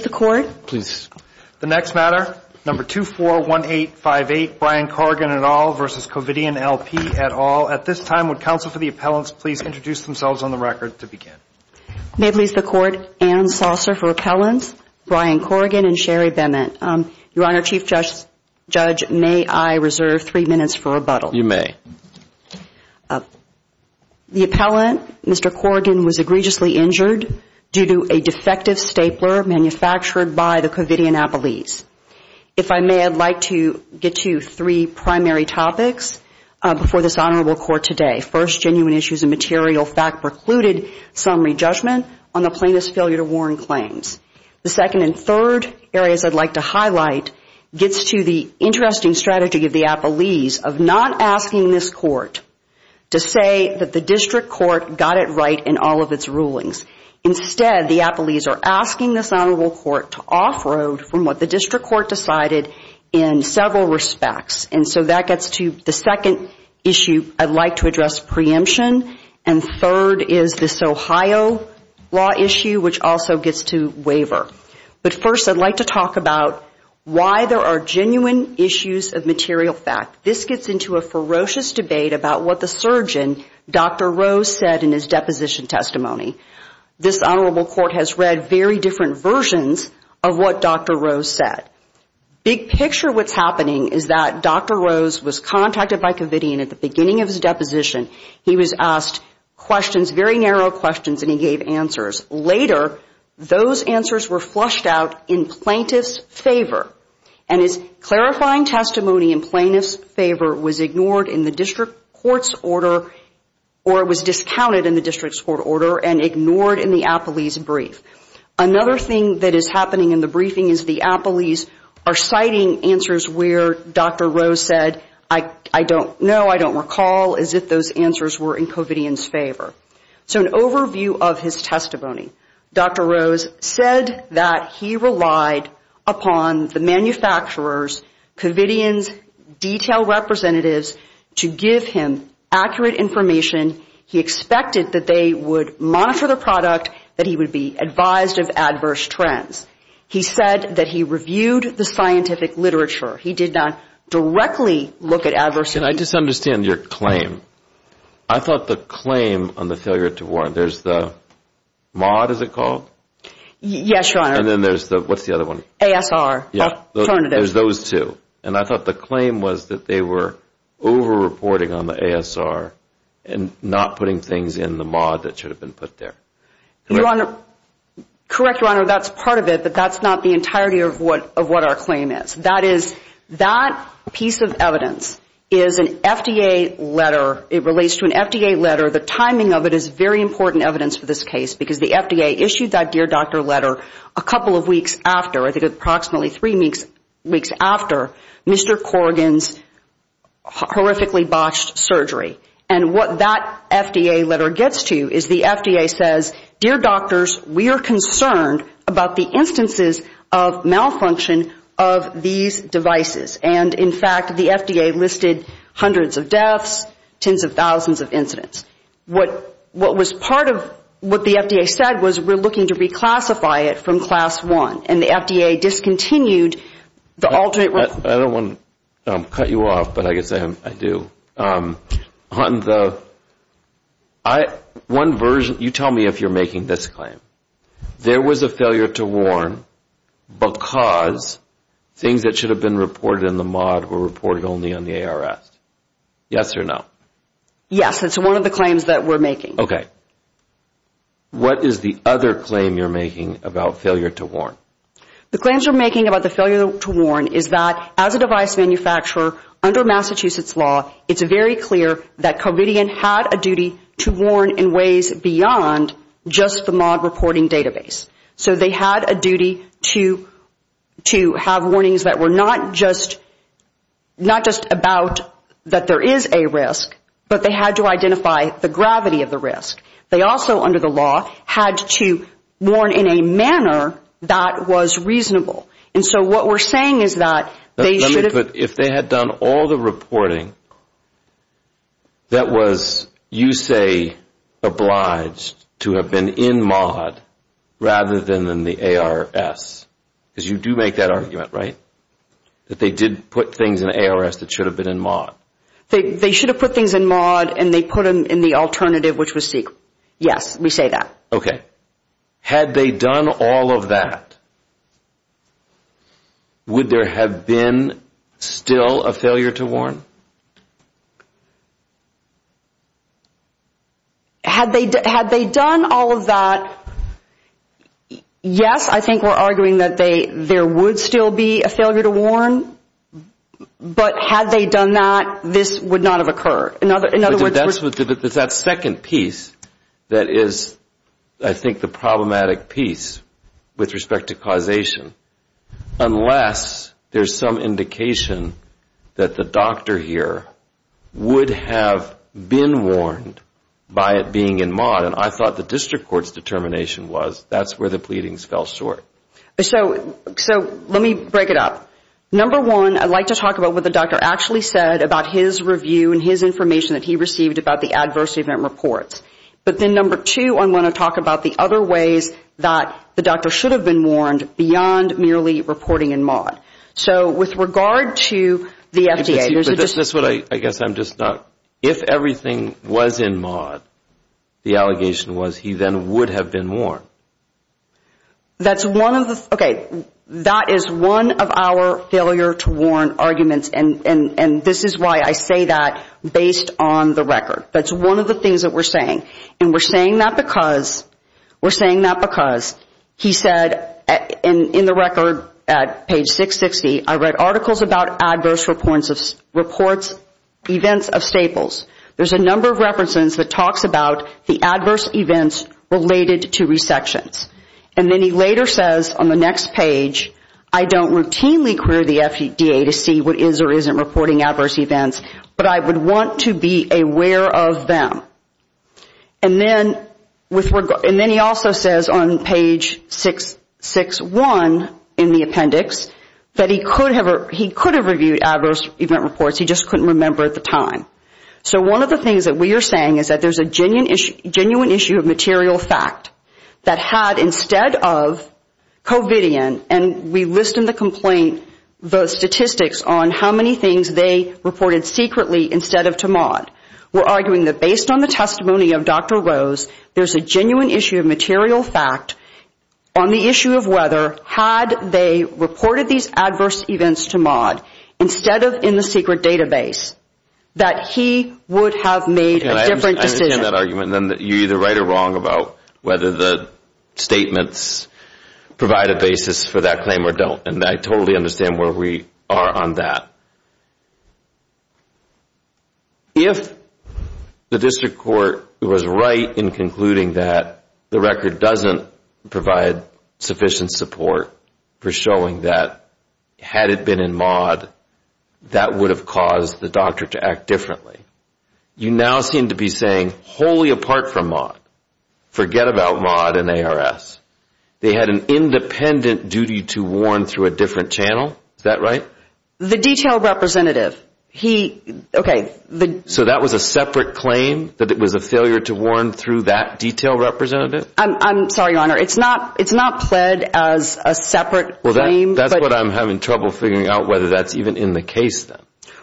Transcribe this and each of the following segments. Brian Corrigan v. Covidien LP Ann Saucer for Appellant Brian Corrigan v. Sherry Bennett May I reserve 3 minutes for rebuttal? You may. The Appellant, Mr. Corrigan, was egregiously injured due to a defective stapler manufactured by the Covidien Appellees. If I may, I'd like to get to three primary topics before this Honorable Court today. First, genuine issues of material fact precluded summary judgment on the plaintiff's failure to warn claims. The second and third areas I'd like to highlight gets to the interesting strategy of the Appellees of not asking this Court to say that the District Court got it right in all of its rulings. Instead, the Appellees are asking this Honorable Court to off-road from what the District Court decided in several respects. And so that gets to the second issue I'd like to address, preemption. And third is this Ohio law issue, which also gets to waiver. But first, I'd like to talk about why there are genuine issues of material fact. This gets into a ferocious debate about what the surgeon, Dr. Rose, said in his deposition testimony. This Honorable Court has read very different versions of what Dr. Rose said. Big picture what's happening is that Dr. Rose was contacted by Covidien at the beginning of his deposition. He was asked questions, very narrow questions, and he gave answers. Later, those answers were flushed out in plaintiff's favor. And his clarifying testimony in plaintiff's favor was ignored in the District Court's order or was discounted in the District Court order and ignored in the Appellee's brief. Another thing that is happening in the briefing is the Appellee's are citing answers where Dr. Rose said, I don't know, I don't recall, as if those answers were in Covidien's favor. So an overview of his testimony, Dr. Rose said that he relied upon the manufacturer's, Covidien's, detailed representatives to give him accurate information. He expected that they would monitor the product, that he would be advised of adverse trends. He said that he reviewed the scientific literature. He did not directly look at adverse events. Can I just understand your claim? I thought the claim on the failure to warrant, there's the MAUD, is it called? Yes, Your Honor. And then there's the, what's the other one? ASR, alternative. There's those two. And I thought the claim was that they were over-reporting on the ASR and not putting things in the MAUD that should have been put there. Correct, Your Honor, that's part of it, but that's not the entirety of what our claim is. That is, that piece of evidence is an FDA letter. It relates to an FDA letter. The timing of it is very important evidence for this case, because the FDA issued that dear doctor letter a couple of weeks after, I think approximately three weeks after Mr. Corrigan's horrifically botched surgery. And what that FDA letter gets to is the FDA says, dear doctors, we are concerned about the instances of malfunction of these devices. And, in fact, the FDA listed hundreds of deaths, tens of thousands of incidents. What was part of what the FDA said was we're looking to reclassify it from class one. And the FDA discontinued the alternate. I don't want to cut you off, but I guess I do. On the one version, you tell me if you're making this claim. There was a failure to warn because things that should have been reported in the MAUD were reported only on the ARS. Yes or no? Yes. It's one of the claims that we're making. Okay. What is the other claim you're making about failure to warn? The claims you're making about the failure to warn is that, as a device manufacturer, under Massachusetts law, it's very clear that Corrigan had a duty to warn in ways beyond just the MAUD reporting database. So they had a duty to have warnings that were not just about that there is a risk, but they had to identify the gravity of the risk. They also, under the law, had to warn in a manner that was reasonable. And so what we're saying is that they should have... Let me put, if they had done all the reporting that was, you say, obliged to have been in MAUD rather than in the ARS, because you do make that argument, right, that they did put things in ARS that should have been in MAUD? They should have put things in MAUD, and they put them in the alternative, which was CEQA. Yes, we say that. Okay. Had they done all of that, would there have been still a failure to warn? Had they done all of that, yes, I think we're arguing that there would still be a failure to warn, but had they done that, this would not have occurred. That's that second piece that is, I think, the problematic piece with respect to causation. Unless there's some indication that the doctor here would have been warned by it being in MAUD, and I thought the district court's determination was that's where the pleadings fell short. So let me break it up. Number one, I'd like to talk about what the doctor actually said about his review and his information that he received about the adverse event reports. But then number two, I want to talk about the other ways that the doctor should have been warned beyond merely reporting in MAUD. So with regard to the FDA, there's a distinction. I guess I'm just not, if everything was in MAUD, the allegation was he then would have been warned. That's one of the, okay, that is one of our failure to warn arguments, and this is why I say that based on the record. That's one of the things that we're saying. And we're saying that because he said in the record at page 660, I read articles about adverse reports, events of staples. There's a number of references that talks about the adverse events related to resections. And then he later says on the next page, I don't routinely query the FDA to see what is or isn't reporting adverse events, but I would want to be aware of them. And then he also says on page 661 in the appendix that he could have reviewed adverse event reports, he just couldn't remember at the time. So one of the things that we are saying is that there's a genuine issue of material fact that had instead of Covidian, and we list in the complaint the statistics on how many things they reported secretly instead of to MAUD. We're arguing that based on the testimony of Dr. Rose, there's a genuine issue of material fact on the issue of whether had they reported these adverse events to MAUD instead of in the secret database that he would have made a different decision. Okay, I understand that argument. You're either right or wrong about whether the statements provide a basis for that claim or don't. And I totally understand where we are on that. If the district court was right in concluding that the record doesn't provide sufficient support for showing that had it been in MAUD, that would have caused the doctor to act differently. You now seem to be saying wholly apart from MAUD, forget about MAUD and ARS. They had an independent duty to warn through a different channel. Is that right? The detailed representative, he, okay. So that was a separate claim that it was a failure to warn through that detailed representative? I'm sorry, Your Honor. It's not pled as a separate claim. Well, that's what I'm having trouble figuring out whether that's even in the case then.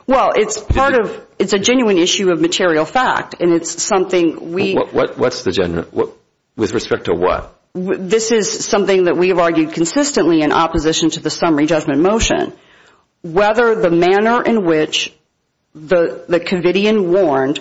Well, it's part of, it's a genuine issue of material fact, and it's something we. What's the genuine, with respect to what? This is something that we have argued consistently in opposition to the summary judgment motion. Whether the manner in which the covidian warned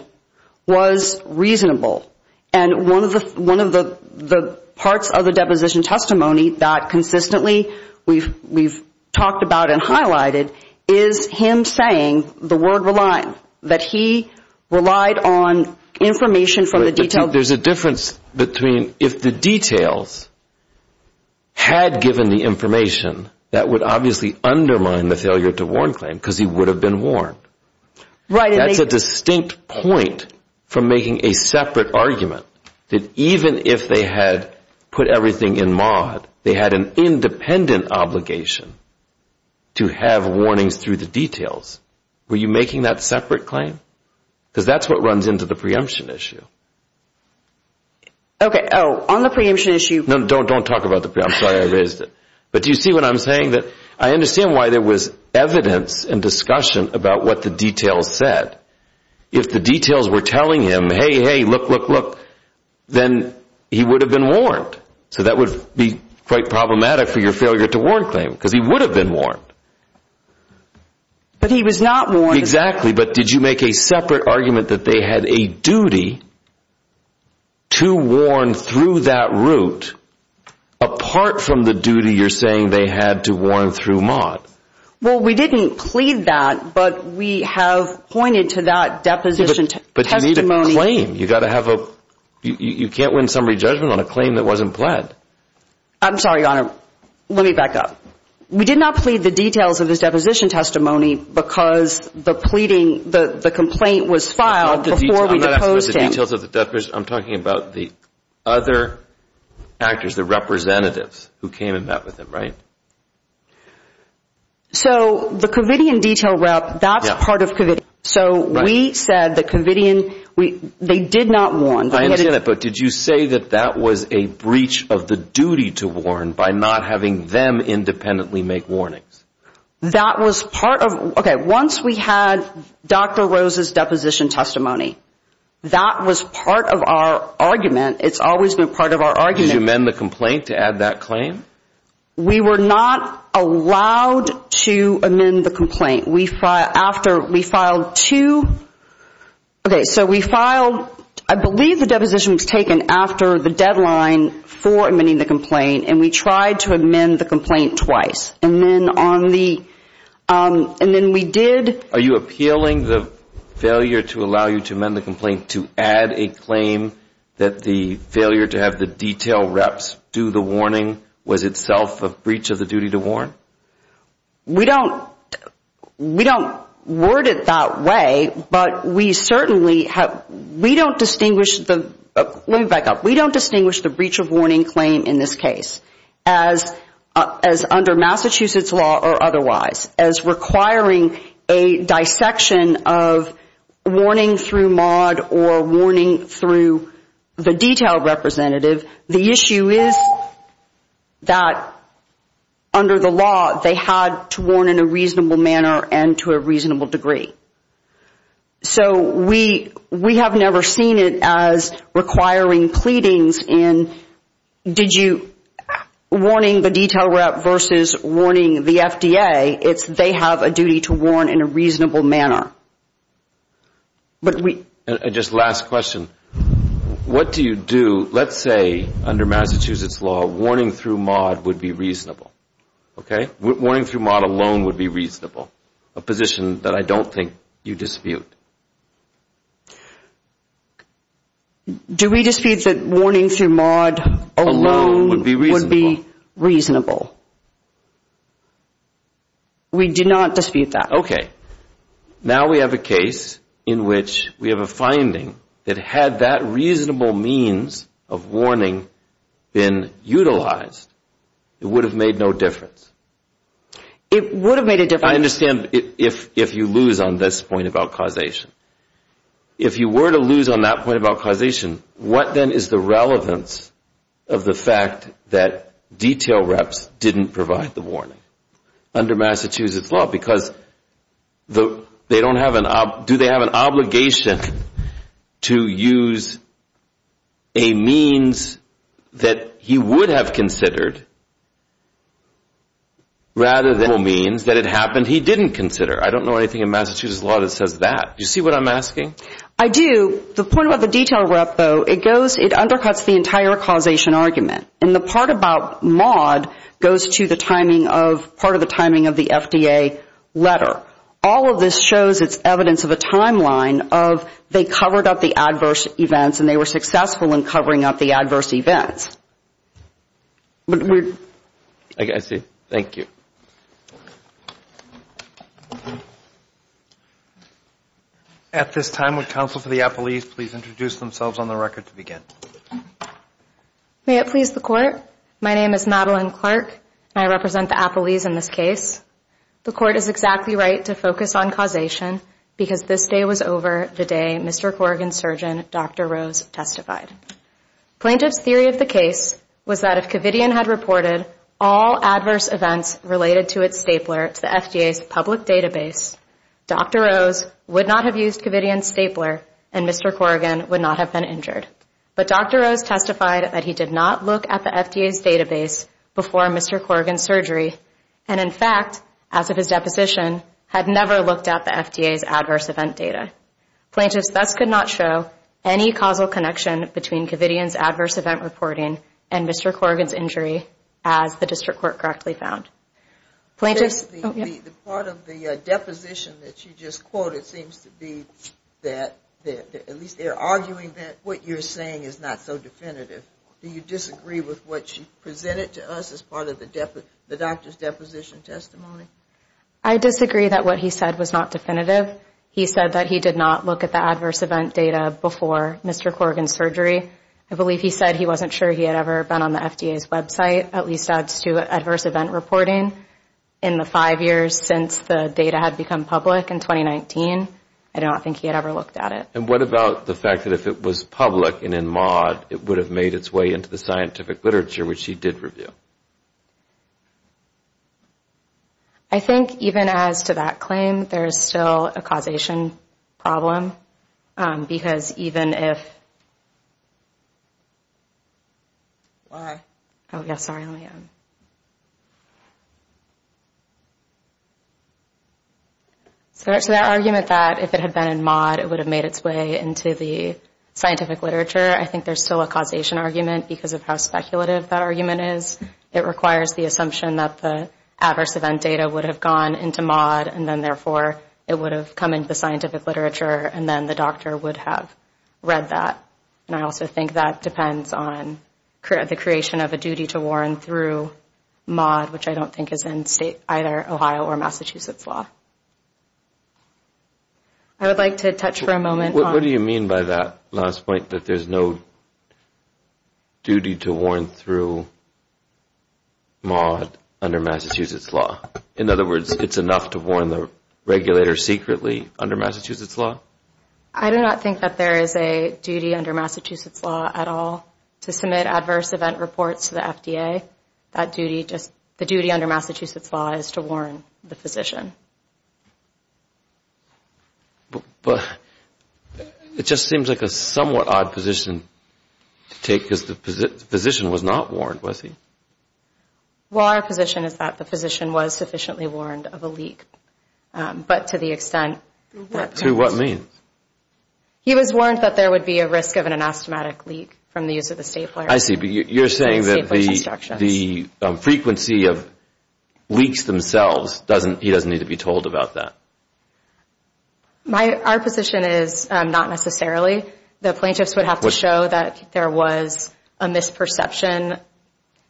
was reasonable. And one of the parts of the deposition testimony that consistently we've talked about and highlighted is him saying the word rely, that he relied on information from the detailed. There's a difference between if the details had given the information, that would obviously undermine the failure to warn claim because he would have been warned. That's a distinct point from making a separate argument that even if they had put everything in MAUD, they had an independent obligation to have warnings through the details. Were you making that separate claim? Because that's what runs into the preemption issue. Okay. Oh, on the preemption issue. No, don't talk about the preemption. I'm sorry I raised it. But do you see what I'm saying? I understand why there was evidence and discussion about what the details said. If the details were telling him, hey, hey, look, look, look, then he would have been warned. So that would be quite problematic for your failure to warn claim because he would have been warned. But he was not warned. But did you make a separate argument that they had a duty to warn through that route apart from the duty you're saying they had to warn through MAUD? Well, we didn't plead that, but we have pointed to that deposition testimony. But you need a claim. You can't win summary judgment on a claim that wasn't pled. I'm sorry, Your Honor. Let me back up. We did not plead the details of his deposition testimony because the pleading, the complaint was filed before we deposed him. I'm not asking about the details of the deposition. I'm talking about the other actors, the representatives who came and met with him, right? So the Covidian detail route, that's part of Covidian. So we said that Covidian, they did not warn. I understand that, but did you say that that was a breach of the duty to warn by not having them independently make warnings? That was part of, okay, once we had Dr. Rose's deposition testimony, that was part of our argument. It's always been part of our argument. Did you amend the complaint to add that claim? We were not allowed to amend the complaint. We filed two, okay, so we filed, I believe the deposition was taken after the deadline for amending the complaint, and we tried to amend the complaint twice. And then on the, and then we did. Are you appealing the failure to allow you to amend the complaint to add a claim that the failure to have the detail reps do the warning was itself a breach of the duty to warn? We don't, we don't word it that way, but we certainly have, we don't distinguish the, let me back up, we don't distinguish the breach of warning claim in this case as under Massachusetts law or otherwise, as requiring a dissection of warning through MAUD or warning through the detail representative. The issue is that under the law, they had to warn in a reasonable manner and to a reasonable degree. So we have never seen it as requiring pleadings in did you, warning the detail rep versus warning the FDA. It's they have a duty to warn in a reasonable manner. And just last question, what do you do, let's say under Massachusetts law, warning through MAUD would be reasonable, okay? Warning through MAUD alone would be reasonable, a position that I don't think you dispute. Do we dispute that warning through MAUD alone would be reasonable? We do not dispute that. Okay, now we have a case in which we have a finding that had that reasonable means of warning been utilized, it would have made no difference. It would have made a difference. I understand if you lose on this point about causation. If you were to lose on that point about causation, what then is the relevance of the fact that detail reps didn't provide the warning under Massachusetts law? Because do they have an obligation to use a means that he would have considered rather than a means that it happened he didn't consider? I don't know anything in Massachusetts law that says that. Do you see what I'm asking? I do. The point about the detail rep, though, it undercuts the entire causation argument. And the part about MAUD goes to the timing of part of the timing of the FDA letter. All of this shows it's evidence of a timeline of they covered up the adverse events and they were successful in covering up the adverse events. I see. Thank you. At this time, would counsel for the appellees please introduce themselves on the record to begin? May it please the Court, my name is Madeline Clark, and I represent the appellees in this case. The Court is exactly right to focus on causation because this day was over the day Mr. Corrigan's surgeon, Dr. Rose, testified. Plaintiff's theory of the case was that if Covidian had reported all adverse events related to its stapler to the FDA's public database, Dr. Rose would not have used Covidian's stapler and Mr. Corrigan would not have been injured. But Dr. Rose testified that he did not look at the FDA's database before Mr. Corrigan's surgery, and in fact, as of his deposition, had never looked at the FDA's adverse event data. Plaintiffs thus could not show any causal connection between Covidian's adverse event reporting and Mr. Corrigan's injury as the District Court correctly found. Part of the deposition that you just quoted seems to be that at least they're arguing that what you're saying is not so definitive. Do you disagree with what you presented to us as part of the doctor's deposition testimony? I disagree that what he said was not definitive. He said that he did not look at the adverse event data before Mr. Corrigan's surgery. I believe he said he wasn't sure he had ever been on the FDA's website, at least as to adverse event reporting, in the five years since the data had become public in 2019. I don't think he had ever looked at it. And what about the fact that if it was public and in MAUD, it would have made its way into the scientific literature, which he did review? I think even as to that claim, there is still a causation problem, because even if... Why? Oh, yeah, sorry. Let me... So that argument that if it had been in MAUD, it would have made its way into the scientific literature, I think there's still a causation argument because of how speculative that argument is. It requires the assumption that the adverse event data would have gone into MAUD, and then therefore it would have come into the scientific literature, and then the doctor would have read that. And I also think that depends on the creation of a duty to warn through MAUD, which I don't think is in either Ohio or Massachusetts law. I would like to touch for a moment on... What do you mean by that last point, that there's no duty to warn through MAUD under Massachusetts law? In other words, it's enough to warn the regulator secretly under Massachusetts law? I do not think that there is a duty under Massachusetts law at all to submit adverse event reports to the FDA. The duty under Massachusetts law is to warn the physician. But it just seems like a somewhat odd position to take because the physician was not warned, was he? Well, our position is that the physician was sufficiently warned of a leak, but to the extent that... Through what means? He was warned that there would be a risk of an anastomatic leak from the use of the stapler. I see, but you're saying that the frequency of leaks themselves, he doesn't need to be told about that? Our position is not necessarily. The plaintiffs would have to show that there was a misperception.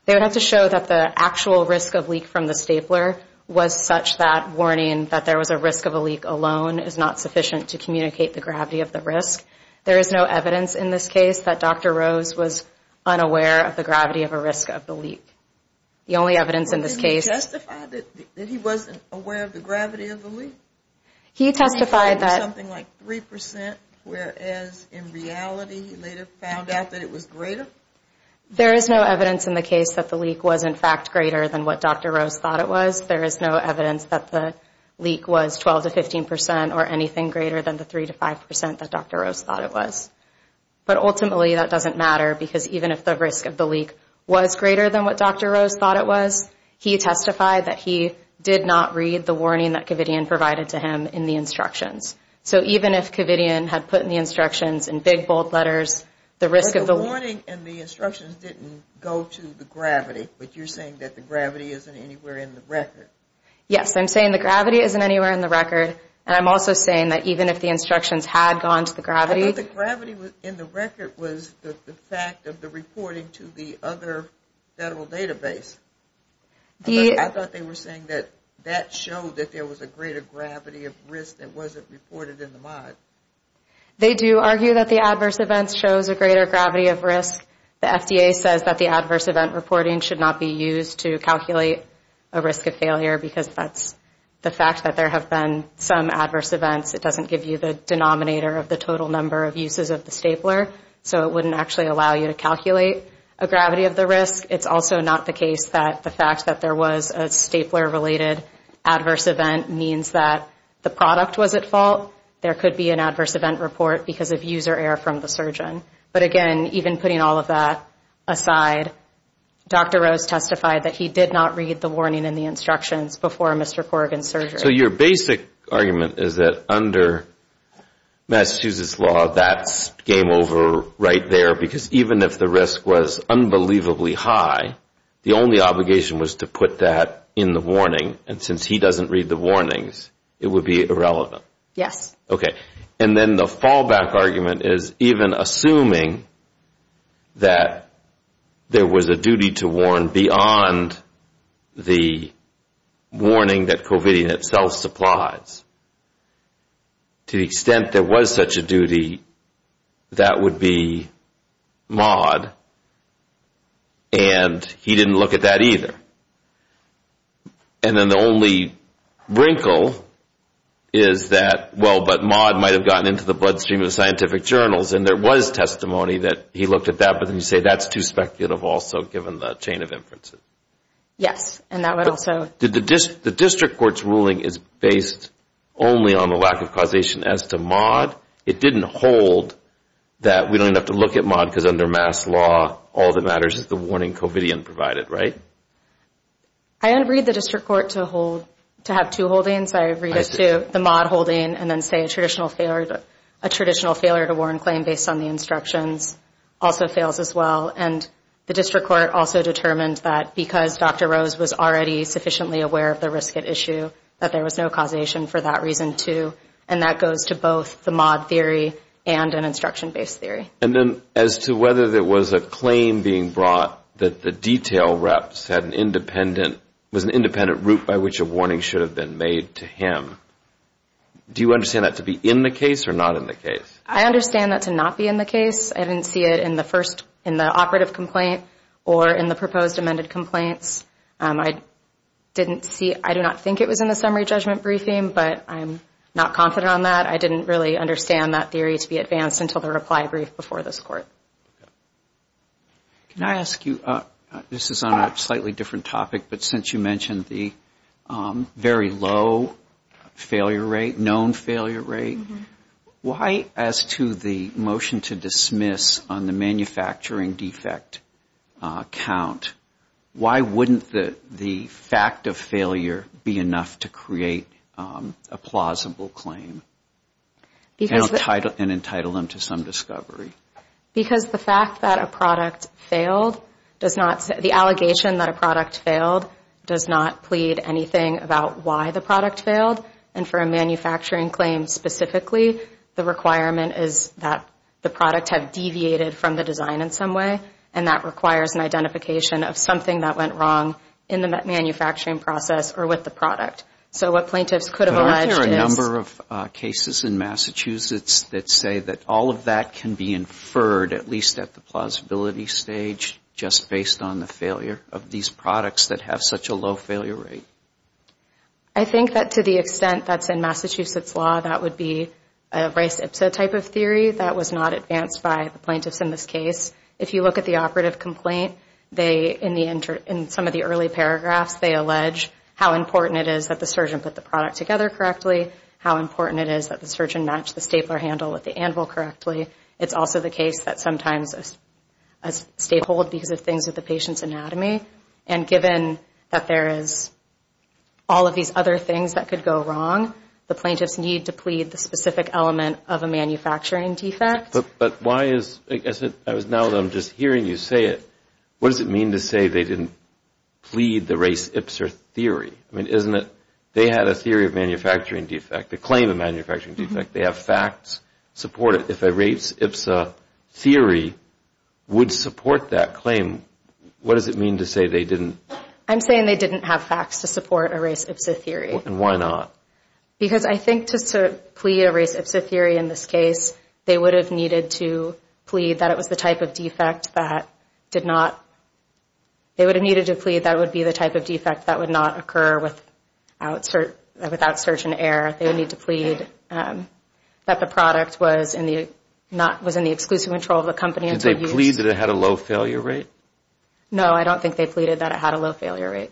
They would have to show that the actual risk of leak from the stapler was such that warning that there was a risk of a leak alone is not sufficient to communicate the gravity of the risk. There is no evidence in this case that Dr. Rose was unaware of the gravity of a risk of the leak. The only evidence in this case... Didn't he testify that he wasn't aware of the gravity of the leak? He testified that... Something like 3%, whereas in reality he later found out that it was greater? There is no evidence in the case that the leak was in fact greater than what Dr. Rose thought it was. There is no evidence that the leak was 12 to 15% or anything greater than the 3 to 5% that Dr. Rose thought it was. But ultimately that doesn't matter because even if the risk of the leak was greater than what Dr. Rose thought it was, he testified that he did not read the warning that Kavitian provided to him in the instructions. So even if Kavitian had put in the instructions in big bold letters the risk of the leak... Yes, I'm saying the gravity isn't anywhere in the record. And I'm also saying that even if the instructions had gone to the gravity... I thought the gravity in the record was the fact of the reporting to the other federal database. I thought they were saying that that showed that there was a greater gravity of risk that wasn't reported in the mod. They do argue that the adverse events shows a greater gravity of risk. The FDA says that the adverse event reporting should not be used to calculate a risk of failure because that's the fact that there have been some adverse events. It doesn't give you the denominator of the total number of uses of the stapler. So it wouldn't actually allow you to calculate a gravity of the risk. It's also not the case that the fact that there was a stapler-related adverse event means that the product was at fault. There could be an adverse event report because of user error from the surgeon. But again, even putting all of that aside, Dr. Rose testified that he did not read the warning in the instructions before Mr. Corrigan's surgery. So your basic argument is that under Massachusetts law, that's game over right there because even if the risk was unbelievably high, the only obligation was to put that in the warning. And since he doesn't read the warnings, it would be irrelevant. Yes. Okay. And then the fallback argument is even assuming that there was a duty to warn beyond the warning that COVID in itself supplies. To the extent there was such a duty, that would be maud, and he didn't look at that either. And then the only wrinkle is that, well, but maud might have gotten into the bloodstream of scientific journals and there was testimony that he looked at that, but then you say that's too speculative also given the chain of inferences. Yes. The district court's ruling is based only on the lack of causation as to maud. It didn't hold that we don't even have to look at maud because under Mass. law, all that matters is the warning COVID provided, right? I don't read the district court to have two holdings. I read it to the maud holding and then say a traditional failure to warn claim based on the instructions also fails as well. And the district court also determined that because Dr. Rose was already sufficiently aware of the risk at issue, that there was no causation for that reason too, and that goes to both the maud theory and an instruction-based theory. And then as to whether there was a claim being brought that the detail reps had an independent, was an independent route by which a warning should have been made to him, do you understand that to be in the case or not in the case? I understand that to not be in the case. I didn't see it in the first, in the operative complaint or in the proposed amended complaints. I didn't see, I do not think it was in the summary judgment briefing, but I'm not confident on that. I didn't really understand that theory to be advanced until the reply brief before this court. Can I ask you, this is on a slightly different topic, but since you mentioned the very low failure rate, known failure rate, why as to the motion to dismiss on the manufacturing defect count, why wouldn't the fact of failure be enough to create a plausible claim and entitle them to some discovery? Because the fact that a product failed does not, the allegation that a product failed does not plead anything about why the product failed. And for a manufacturing claim specifically, the requirement is that the product had deviated from the design in some way, and that requires an identification of something that went wrong in the manufacturing process or with the product. So what plaintiffs could have alleged is... But aren't there a number of cases in Massachusetts that say that all of that can be inferred, at least at the plausibility stage, just based on the failure of these products that have such a low failure rate? I think that to the extent that's in Massachusetts law, that would be a Rice-Ipsa type of theory. That was not advanced by the plaintiffs in this case. If you look at the operative complaint, in some of the early paragraphs, they allege how important it is that the surgeon put the product together correctly, how important it is that the surgeon matched the stapler handle with the anvil correctly. It's also the case that sometimes a staple would be the things with the patient's anatomy, and given that there is all of these other things that could go wrong, the plaintiffs need to plead the specific element of a manufacturing defect. But why is it, now that I'm just hearing you say it, what does it mean to say they didn't plead the Rice-Ipsa theory? I mean, isn't it, they had a theory of manufacturing defect, a claim of manufacturing defect. They have facts support it. If a Rice-Ipsa theory would support that claim, what does it mean to say they didn't? I'm saying they didn't have facts to support a Rice-Ipsa theory. And why not? Because I think just to plead a Rice-Ipsa theory in this case, they would have needed to plead that it was the type of defect that did not, they would have needed to plead that it would be the type of defect that would not occur without surgeon error. They would need to plead that the product was in the exclusive control of the company until use. Did they plead that it had a low failure rate? No, I don't think they pleaded that it had a low failure rate.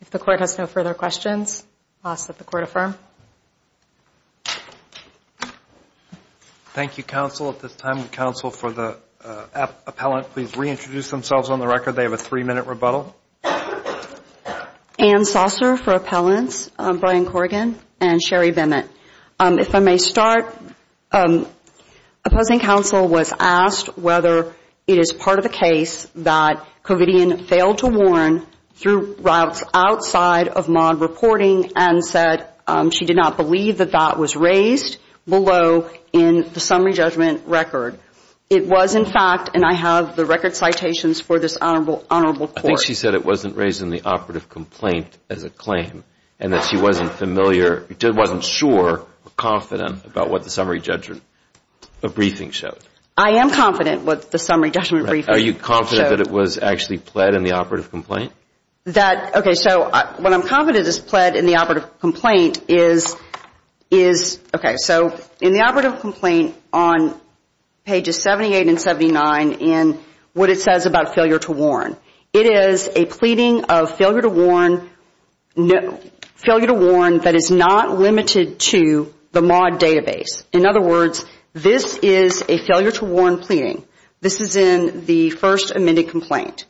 If the court has no further questions, I'll ask that the court affirm. Thank you, counsel. At this time, counsel, for the appellant, please reintroduce themselves on the record. They have a three-minute rebuttal. Ann Saucer for appellants, Brian Corrigan, and Sherry Vimit. If I may start, opposing counsel was asked whether it is part of the case that Covidian failed to warn through routes outside of MAUD reporting and said she did not believe that that was raised below in the summary judgment record. It was, in fact, and I have the record citations for this honorable court. I think she said it wasn't raised in the operative complaint as a claim and that she wasn't familiar, wasn't sure or confident about what the summary judgment briefing showed. I am confident what the summary judgment briefing showed. Are you confident that it was actually pled in the operative complaint? Okay, so what I'm confident is pled in the operative complaint is, okay, so in the operative complaint on pages 78 and 79 in what it says about failure to warn, it is a pleading of failure to warn that is not limited to the MAUD database. In other words, this is a failure to warn pleading. This is in the first amended complaint.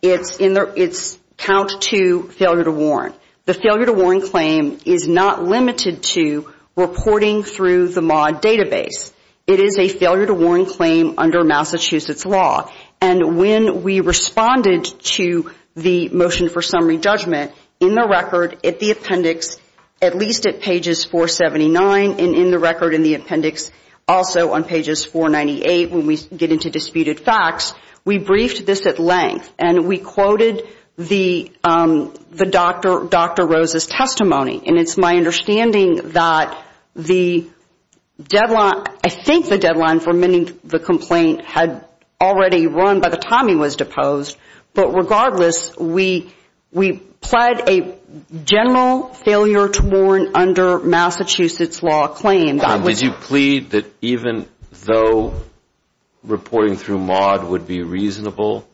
It's count to failure to warn. The failure to warn claim is not limited to reporting through the MAUD database. It is a failure to warn claim under Massachusetts law. And when we responded to the motion for summary judgment in the record at the appendix at least at pages 479 and in the record in the appendix also on pages 498 when we get into disputed facts, we briefed this at length and we quoted the Dr. Rose's testimony. And it's my understanding that the deadline, I think the deadline for mending the complaint had already run by the time he was deposed. But regardless, we pled a general failure to warn under Massachusetts law claim. Did you plead that even though reporting through MAUD would be a reasonable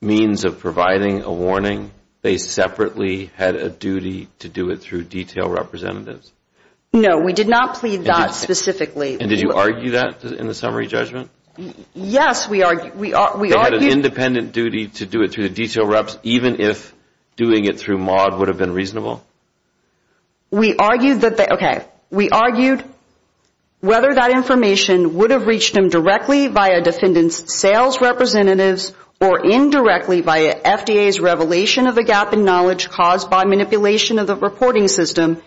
means of providing a warning, they separately had a duty to do it through detail representatives? No, we did not plead that specifically. And did you argue that in the summary judgment? Yes, we argued. They had an independent duty to do it through the detail reps even if doing it through MAUD would have been reasonable? We argued that they, okay, we argued whether that information would have reached them directly via defendant's sales representatives or indirectly via FDA's revelation of a gap in knowledge caused by manipulation of the reporting system,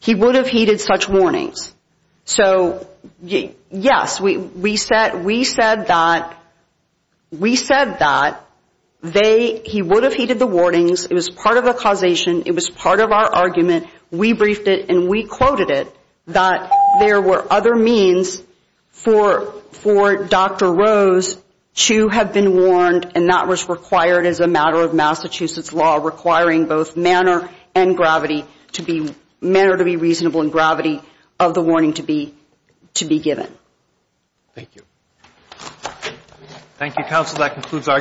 he would have heeded such warnings. So, yes, we said that he would have heeded the warnings. It was part of the causation. It was part of our argument. We briefed it and we quoted it that there were other means for Dr. Rose to have been warned and not was required as a matter of Massachusetts law requiring both manner and gravity to be, manner to be reasonable and gravity of the warning to be given. Thank you. Thank you, counsel.